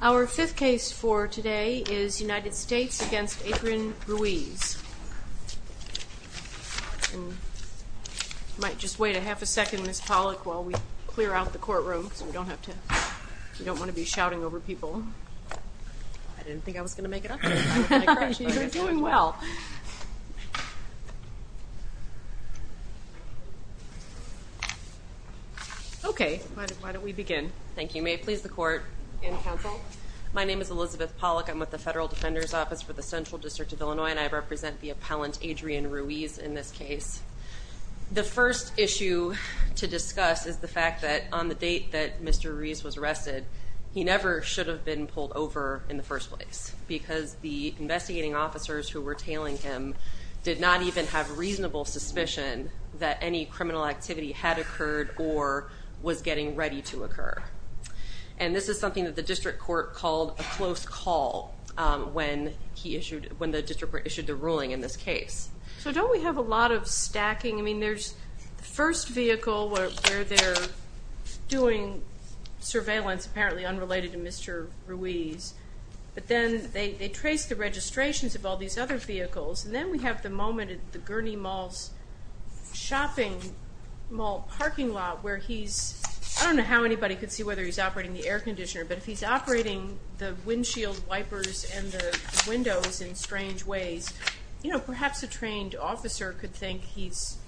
Our fifth case for today is United States v. Adrian Ruiz. You might just wait a half a second, Ms. Pollack, while we clear out the courtroom, because we don't want to be shouting over people. I didn't think I was going to make it up to you. Okay, why don't we begin. My name is Elizabeth Pollack. I'm with the Federal Defender's Office for the Central District of Illinois, and I represent the appellant Adrian Ruiz in this case. The first issue to discuss is the fact that on the date that Mr. Ruiz was arrested, he never should have been pulled over in the first place, because the investigating officers who were tailing him did not even have reasonable suspicion that any criminal activity had occurred or was getting ready to occur. And this is something that the district court called a close call when the district court issued the ruling in this case. So don't we have a lot of stacking? I mean, there's the first vehicle where they're doing surveillance, apparently unrelated to Mr. Ruiz, but then they trace the registrations of all these other vehicles, and then we have the moment at the Gurney Mall's shopping mall parking lot where he's, I don't know how anybody could see whether he's operating the air conditioner, but if he's operating the windshield wipers and the windows in strange ways, perhaps a trained officer could think he's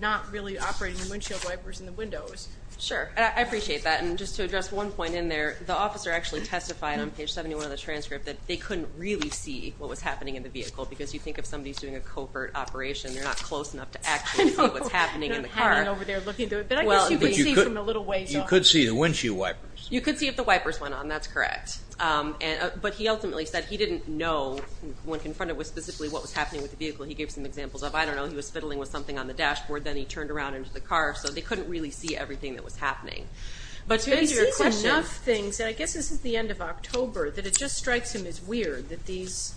not really operating the windshield wipers and the windows. Sure. I appreciate that. And just to address one point in there, the officer actually testified on page 71 of the transcript that they couldn't really see what was happening in the vehicle, because you think if somebody's doing a covert operation, they're not close enough to actually see what's happening in the car. You could see the windshield wipers. You could see if the wipers went on. That's correct. But he ultimately said he didn't know when confronted with specifically what was happening with the vehicle. He gave some examples of, I don't know, he was fiddling with something on the dashboard, then he turned around into the car, so they couldn't really see everything that was happening. I guess this is the end of October, that it just strikes him as weird that these,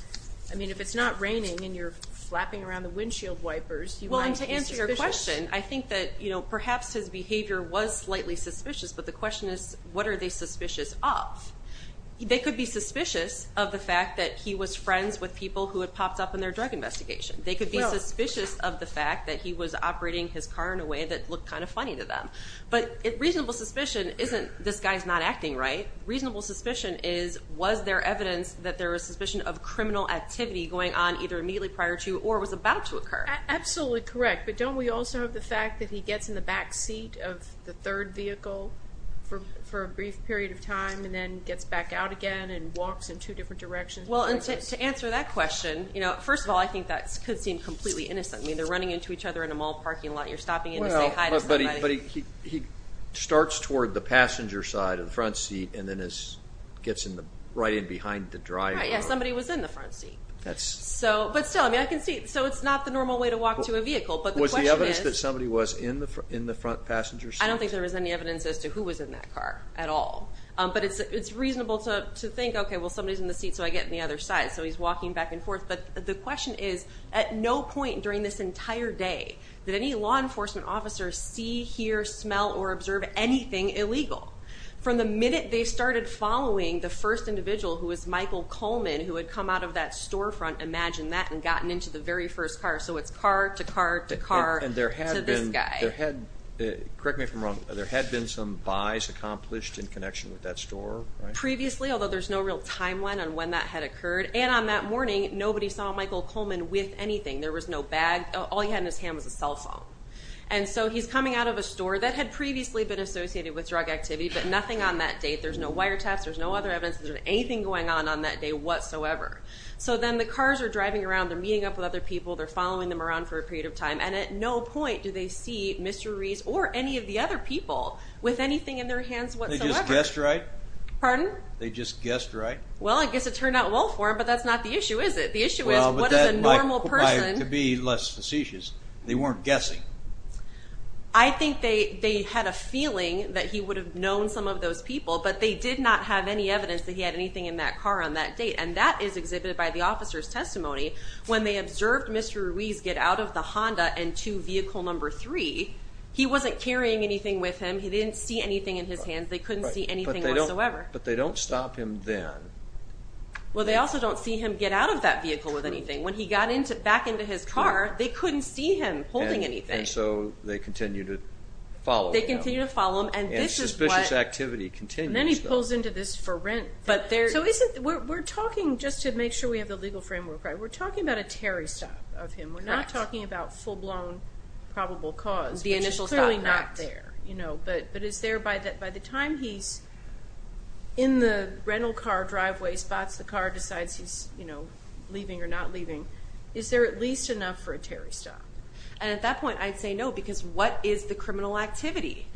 I mean, if it's not raining and you're flapping around the windshield wipers, you might be suspicious. But the question, I think that perhaps his behavior was slightly suspicious, but the question is, what are they suspicious of? They could be suspicious of the fact that he was friends with people who had popped up in their drug investigation. They could be suspicious of the fact that he was operating his car in a way that looked kind of funny to them. But reasonable suspicion isn't, this guy's not acting right. Reasonable suspicion is, was there evidence that there was suspicion of criminal activity going on either immediately prior to or was about to occur? Absolutely correct. But don't we also have the fact that he gets in the back seat of the third vehicle for a brief period of time and then gets back out again and walks in two different directions? Well, to answer that question, first of all, I think that could seem completely innocent. I mean, they're running into each other in a mall parking lot. You're stopping in to say hi to somebody. But he starts toward the passenger side of the front seat and then gets right in behind the driver. Right, yeah, somebody was in the front seat. So it's not the normal way to walk to a vehicle, but the question is... Was there evidence that somebody was in the front passenger seat? I don't think there was any evidence as to who was in that car at all. But it's reasonable to think, OK, well, somebody's in the seat, so I get in the other side. So he's walking back and forth. But the question is, at no point during this entire day did any law enforcement officer see, hear, smell, or observe anything illegal. From the minute they started following the first individual, who was Michael Coleman, who had come out of that storefront, imagine that, and gotten into the very first car. So it's car to car to car to this guy. Correct me if I'm wrong. There had been some buys accomplished in connection with that store, right? Previously, although there's no real timeline on when that had occurred. And on that morning, nobody saw Michael Coleman with anything. There was no bag. All he had in his hand was a cell phone. And so he's coming out of a store that had previously been associated with drug activity, but nothing on that date. Cars are driving around. They're meeting up with other people. They're following them around for a period of time. And at no point do they see Mr. Rees or any of the other people with anything in their hands whatsoever. They just guessed right? Pardon? They just guessed right? Well, I guess it turned out well for him, but that's not the issue, is it? The issue is, what does a normal person... Well, but that might provide to be less facetious. They weren't guessing. I think they had a feeling that he would have known some of those people, but they did not have any evidence that he had anything in that car on that date. And that is exhibited by the officer's testimony. When they observed Mr. Rees get out of the Honda and to vehicle number three, he wasn't carrying anything with him. He didn't see anything in his hands. They couldn't see anything whatsoever. But they don't stop him then. Well, they also don't see him get out of that vehicle with anything. When he got back into his car, they couldn't see him holding anything. And so they continue to follow him. And suspicious activity continues. We're talking, just to make sure we have the legal framework right, we're talking about a Terry stop of him. We're not talking about full-blown probable cause, which is clearly not there. But is there, by the time he's in the rental car driveway spots, the car decides he's leaving or not leaving, is there at least enough for a Terry stop? And at that point, I'd say no, because what is the criminal activity?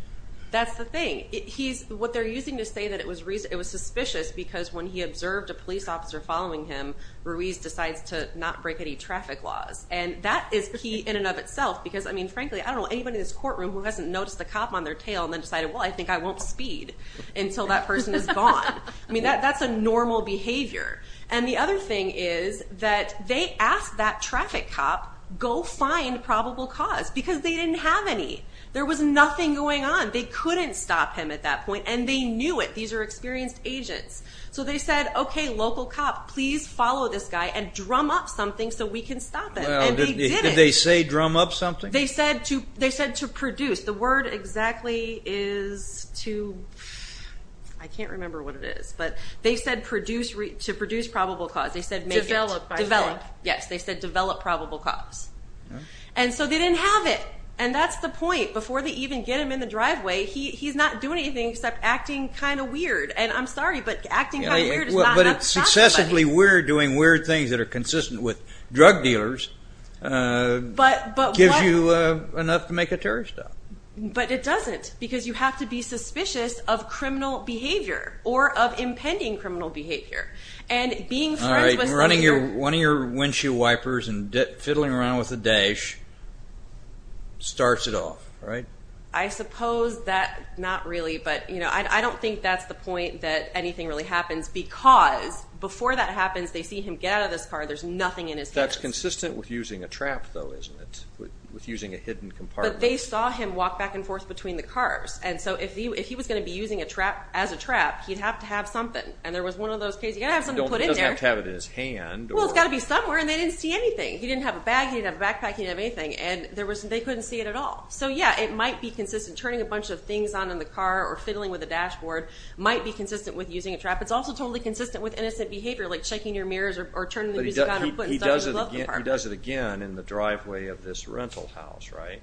That's the thing. What they're using to say that it was suspicious, because when he observed a police officer following him, Rees decides to not break any traffic laws. And that is key in and of itself, because frankly, I don't know anybody in this courtroom who hasn't noticed a cop on their tail and then decided, well, I think I won't speed until that person is gone. That's a normal behavior. And the other thing is that they asked that traffic cop, go find probable cause, because they didn't have any. There was nothing going on. They couldn't stop him at that point. And they knew it. These are experienced agents. So they said, OK, local cop, please follow this guy and drum up something so we can stop him. Did they say drum up something? They said to produce. The word exactly is to, I can't remember what it is, but they said to produce probable cause. They said develop. Yes, they said develop probable cause. And so they didn't have it. And that's the point. Before they even get him in the driveway, he's not doing anything except acting kind of weird. And I'm sorry, but acting kind of weird is not enough to stop somebody. But successively weird doing weird things that are consistent with drug dealers gives you enough to make a terrorist stop. But it doesn't, because you have to be suspicious of criminal behavior or of impending criminal behavior. All right, running one of your windshield wipers and fiddling around with the dash starts it off. I suppose that, not really, but I don't think that's the point that anything really happens. Because before that happens, they see him get out of this car, there's nothing in his hands. That's consistent with using a trap, though, isn't it? With using a hidden compartment. But they saw him walk back and forth between the cars. And so if he was going to be using a trap as a trap, he'd have to have something. And there was one of those cases, you've got to have something put in there. He doesn't have to have it in his hand. Well, it's got to be somewhere, and they didn't see anything. He didn't have a bag, he didn't have a backpack, he didn't have anything. And they couldn't see it at all. So yeah, it might be consistent. Turning a bunch of things on in the car or fiddling with a dashboard might be consistent with using a trap. It's also totally consistent with innocent behavior, like checking your mirrors or turning the music on and putting stuff in the glove compartment. But he does it again in the driveway of this rental house, right?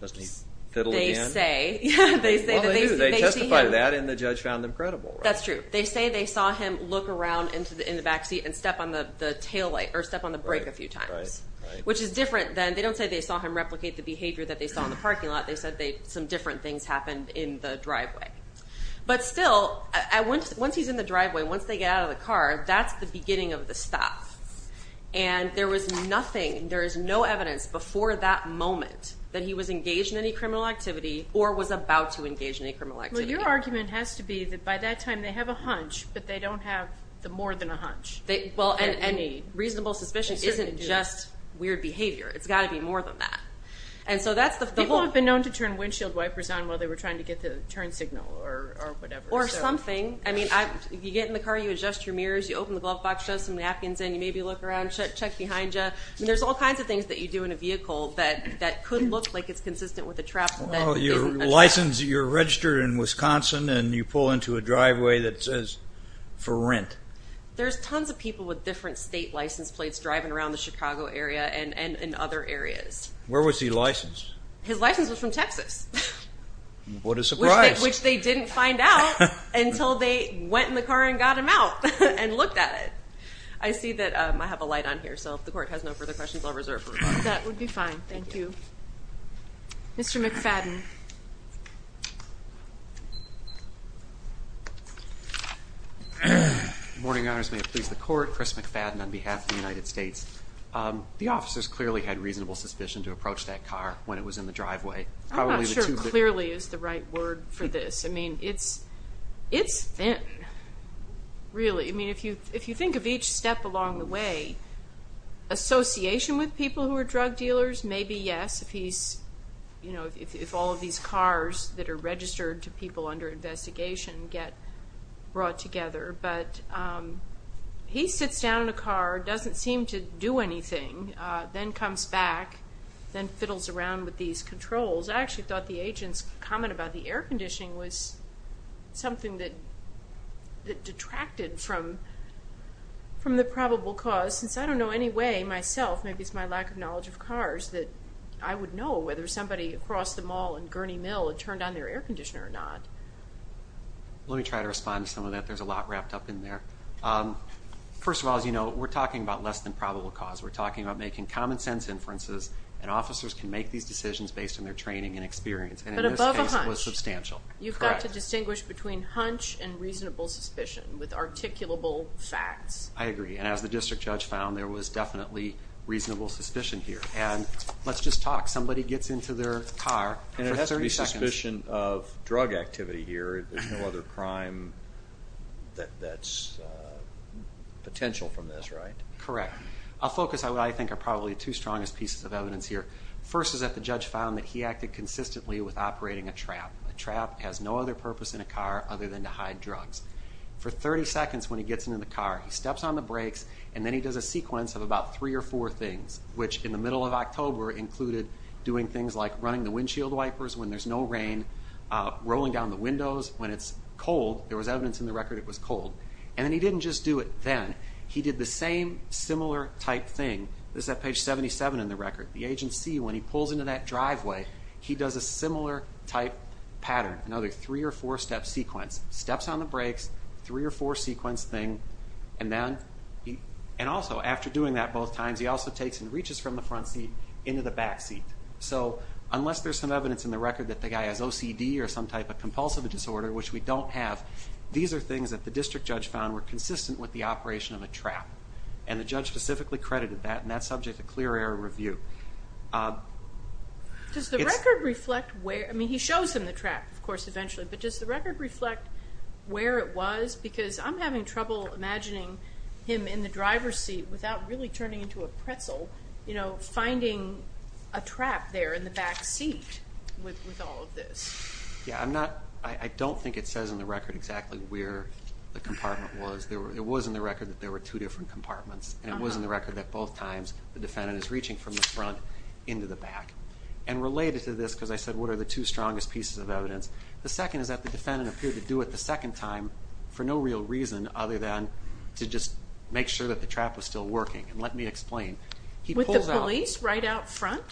Doesn't he fiddle again? They say. Well, they do. They testified to that, and the judge found them credible. That's true. They say they saw him look around in the backseat and step on the tail light or step on the brake a few times. Right, right, right. Which is different than, they don't say they saw him replicate the behavior that they saw in the parking lot. They said some different things happened in the driveway. But still, once he's in the driveway, once they get out of the car, that's the beginning of the stop. And there was nothing, there is no evidence before that moment that he was engaged in any criminal activity or was about to engage in any criminal activity. Well, your argument has to be that by that time they have a hunch, but they don't have more than a hunch. Well, and a reasonable suspicion isn't just weird behavior. It's got to be more than that. People have been known to turn windshield wipers on while they were trying to get the turn signal or whatever. Or something. I mean, you get in the car, you adjust your mirrors, you open the glove box, shove some napkins in, you maybe look around, check behind you. I mean, there's all kinds of things that you do in a vehicle that could look like it's consistent with a trap. Well, your license, you're registered in Wisconsin, and you pull into a driveway that says for rent. There's tons of people with different state license plates driving around the Chicago area and in other areas. Where was he licensed? His license was from Texas. What a surprise. Which they didn't find out until they went in the car and got him out and looked at it. I see that I have a light on here, so if the court has no further questions, I'll reserve for rebuttal. That would be fine. Thank you. Mr. McFadden. Good morning, Your Honors. May it please the court, Chris McFadden on behalf of the United States. The officers clearly had reasonable suspicion to approach that car when it was in the driveway. I'm not sure clearly is the right word for this. I mean, it's thin, really. I mean, if you think of each step along the way, association with people who are drug dealers, maybe yes. If he's, you know, if all of these cars that are registered to people under investigation get brought together. But he sits down in a car, doesn't seem to do anything, then comes back, then fiddles around with these controls. I actually thought the agent's comment about the air conditioning was something that detracted from the probable cause. Since I don't know any way myself, maybe it's my lack of knowledge of cars, that I would know whether somebody across the mall in Gurney Mill had turned on their air conditioner or not. Let me try to respond to some of that. There's a lot wrapped up in there. First of all, as you know, we're talking about less than probable cause. We're talking about making common sense inferences, and officers can make these decisions based on their training and experience. And in this case, it was substantial. You've got to distinguish between hunch and reasonable suspicion with articulable facts. I agree. And as the district judge found, there was definitely reasonable suspicion here. And let's just talk. Somebody gets into their car for 30 seconds. And it has to be suspicion of drug activity here. There's no other crime that's potential from this, right? Correct. I'll focus on what I think are probably the two strongest pieces of evidence here. First is that the judge found that he acted consistently with operating a trap. A trap has no other purpose in a car other than to hide drugs. For 30 seconds when he gets into the car, he steps on the brakes, and then he does a sequence of about three or four things, which in the middle of October included doing things like running the windshield wipers when there's no rain, rolling down the windows when it's cold. There was evidence in the record it was cold. And then he didn't just do it then. He did the same similar type thing. This is at page 77 in the record. The agency, when he pulls into that driveway, he does a similar type pattern, another three- or four-step sequence. Steps on the brakes, three- or four-sequence thing, and also after doing that both times, he also takes and reaches from the front seat into the back seat. So unless there's some evidence in the record that the guy has OCD or some type of compulsive disorder, which we don't have, these are things that the district judge found were consistent with the operation of a trap. And the judge specifically credited that, and that's subject to clear air review. Does the record reflect where? I mean, he shows him the trap, of course, eventually. But does the record reflect where it was? Because I'm having trouble imagining him in the driver's seat without really turning into a pretzel, you know, finding a trap there in the back seat with all of this. Yeah, I don't think it says in the record exactly where the compartment was. It was in the record that there were two different compartments, and it was in the record that both times the defendant is reaching from the front into the back. And related to this, because I said what are the two strongest pieces of evidence, the second is that the defendant appeared to do it the second time for no real reason other than to just make sure that the trap was still working. And let me explain. With the police right out front?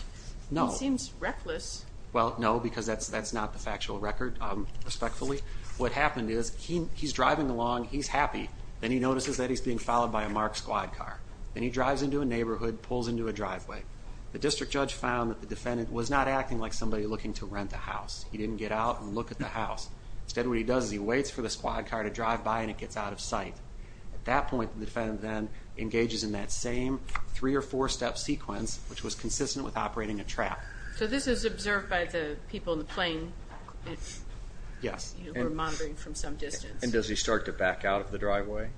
No. He seems reckless. Well, no, because that's not the factual record, respectfully. What happened is he's driving along. He's happy. Then he notices that he's being followed by a marked squad car. Then he drives into a neighborhood, pulls into a driveway. The district judge found that the defendant was not acting like somebody looking to rent a house. He didn't get out and look at the house. Instead, what he does is he waits for the squad car to drive by, and it gets out of sight. At that point, the defendant then engages in that same three- or four-step sequence, which was consistent with operating a trap. So this is observed by the people in the plane who are monitoring from some distance. And does he start to back out of the driveway?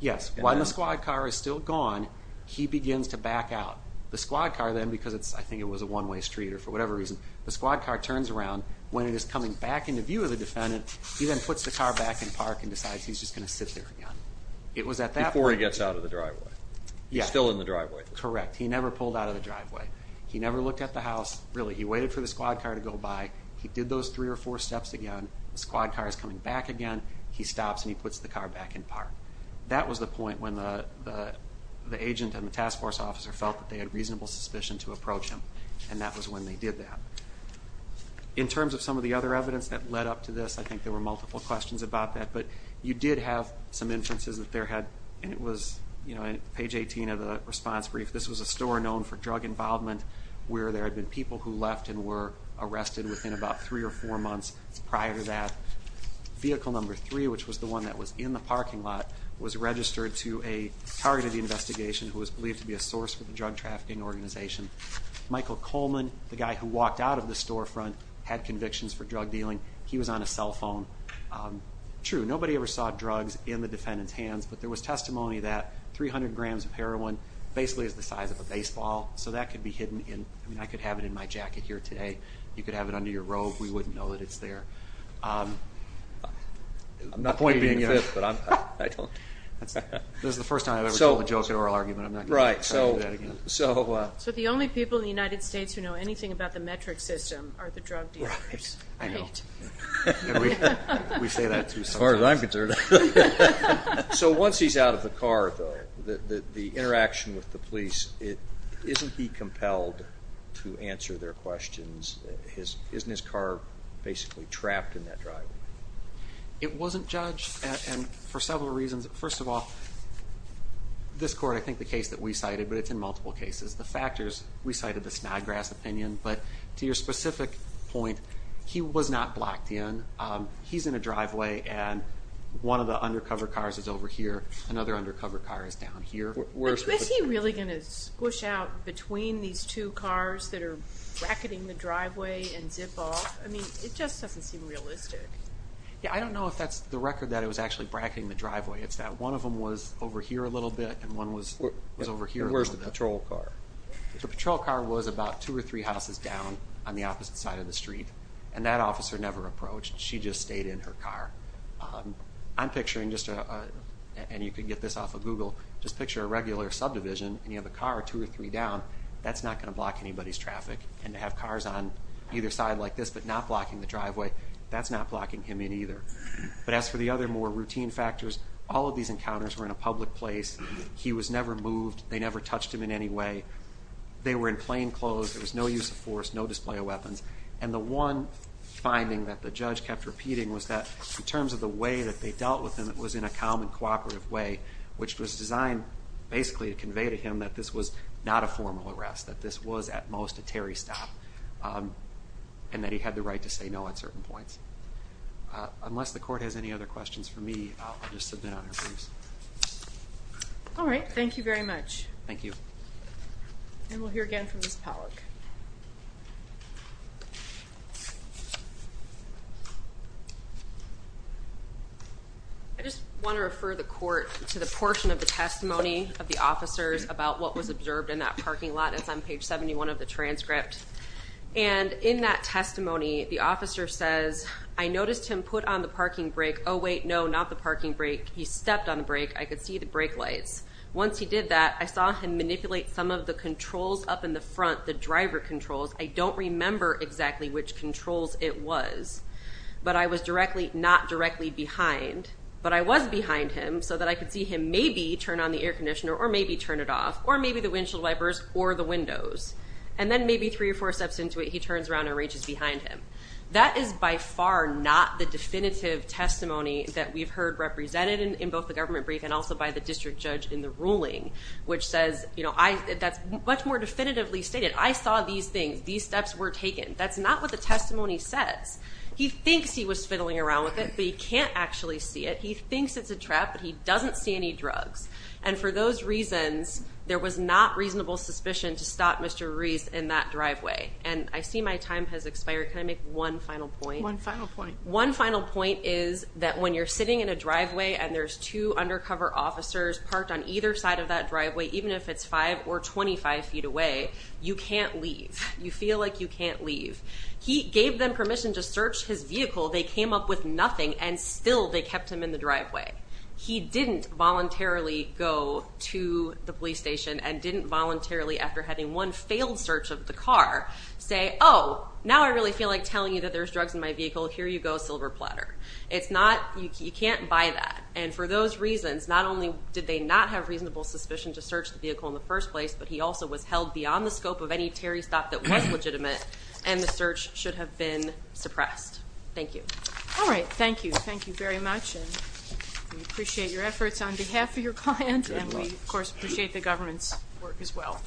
Yes. When the squad car is still gone, he begins to back out. The squad car then, because I think it was a one-way street or for whatever reason, the squad car turns around. When it is coming back into view of the defendant, he then puts the car back in park and decides he's just going to sit there again. It was at that point. Before he gets out of the driveway. He's still in the driveway. Correct. He never pulled out of the driveway. He never looked at the house. Really, he waited for the squad car to go by. He did those three or four steps again. The squad car is coming back again. He stops and he puts the car back in park. That was the point when the agent and the task force officer felt that they had reasonable suspicion to approach him, and that was when they did that. In terms of some of the other evidence that led up to this, I think there were multiple questions about that, but you did have some inferences that there had, and it was page 18 of the response brief, this was a store known for drug involvement where there had been people who left and were arrested within about three or four months prior to that. Vehicle number three, which was the one that was in the parking lot, was registered to a targeted investigation who was believed to be a source for the drug trafficking organization. Michael Coleman, the guy who walked out of the storefront, had convictions for drug dealing. He was on a cell phone. True, nobody ever saw drugs in the defendant's hands, but there was testimony that 300 grams of heroin basically is the size of a baseball, so that could be hidden. I mean, I could have it in my jacket here today. You could have it under your robe. We wouldn't know that it's there. My point being, this is the first time I've ever told a joke in oral argument. I'm not going to try to do that again. So the only people in the United States who know anything about the metric system are the drug dealers. I know. We say that too sometimes. As far as I'm concerned. So once he's out of the car, though, the interaction with the police, isn't he compelled to answer their questions? Isn't his car basically trapped in that driveway? It wasn't judged for several reasons. First of all, this court, I think the case that we cited, but it's in multiple cases, the factors, we cited the Snodgrass opinion, but to your specific point, he was not blocked in. He's in a driveway, and one of the undercover cars is over here. Another undercover car is down here. But is he really going to squish out between these two cars that are bracketing the driveway and zip off? I mean, it just doesn't seem realistic. Yeah, I don't know if that's the record that it was actually bracketing the driveway. It's that one of them was over here a little bit, and one was over here a little bit. Where's the patrol car? The patrol car was about two or three houses down on the opposite side of the street, and that officer never approached. She just stayed in her car. I'm picturing just a, and you can get this off of Google, just picture a regular subdivision, and you have a car two or three down. That's not going to block anybody's traffic. And to have cars on either side like this but not blocking the driveway, that's not blocking him in either. But as for the other more routine factors, all of these encounters were in a public place. He was never moved. They never touched him in any way. They were in plain clothes. There was no use of force, no display of weapons. And the one finding that the judge kept repeating was that in terms of the way that they dealt with him, it was in a calm and cooperative way, which was designed basically to convey to him that this was not a formal arrest, that this was at most a Terry stop, and that he had the right to say no at certain points. Unless the court has any other questions for me, I'll just submit on our briefs. All right. Thank you very much. Thank you. And we'll hear again from Ms. Pollack. I just want to refer the court to the portion of the testimony of the officers about what was observed in that parking lot. It's on page 71 of the transcript. And in that testimony, the officer says, I noticed him put on the parking brake. Oh, wait, no, not the parking brake. He stepped on the brake. I could see the brake lights. Once he did that, I saw him manipulate some of the controls up in the front, the driver controls. I don't remember exactly which controls it was. But I was directly, not directly behind, but I was behind him so that I could see him maybe turn on the air conditioner or maybe turn it off or maybe the windshield wipers or the windows. And then maybe three or four steps into it, he turns around and reaches behind him. That is by far not the definitive testimony that we've heard represented in both the government brief and also by the district judge in the ruling, which says, you know, that's much more definitively stated. I saw these things. These steps were taken. That's not what the testimony says. He thinks he was fiddling around with it, but he can't actually see it. He thinks it's a trap, but he doesn't see any drugs. And for those reasons, there was not reasonable suspicion to stop Mr. Ruiz in that driveway. And I see my time has expired. Can I make one final point? One final point. My final point is that when you're sitting in a driveway and there's two undercover officers parked on either side of that driveway, even if it's five or 25 feet away, you can't leave. You feel like you can't leave. He gave them permission to search his vehicle. They came up with nothing, and still they kept him in the driveway. He didn't voluntarily go to the police station and didn't voluntarily, after having one failed search of the car, say, oh, now I really feel like telling you that there's drugs in my vehicle. Here you go, silver platter. You can't buy that. And for those reasons, not only did they not have reasonable suspicion to search the vehicle in the first place, but he also was held beyond the scope of any Terry stop that was legitimate, and the search should have been suppressed. Thank you. All right, thank you. Thank you very much. We appreciate your efforts on behalf of your client, and we, of course, appreciate the government's work as well.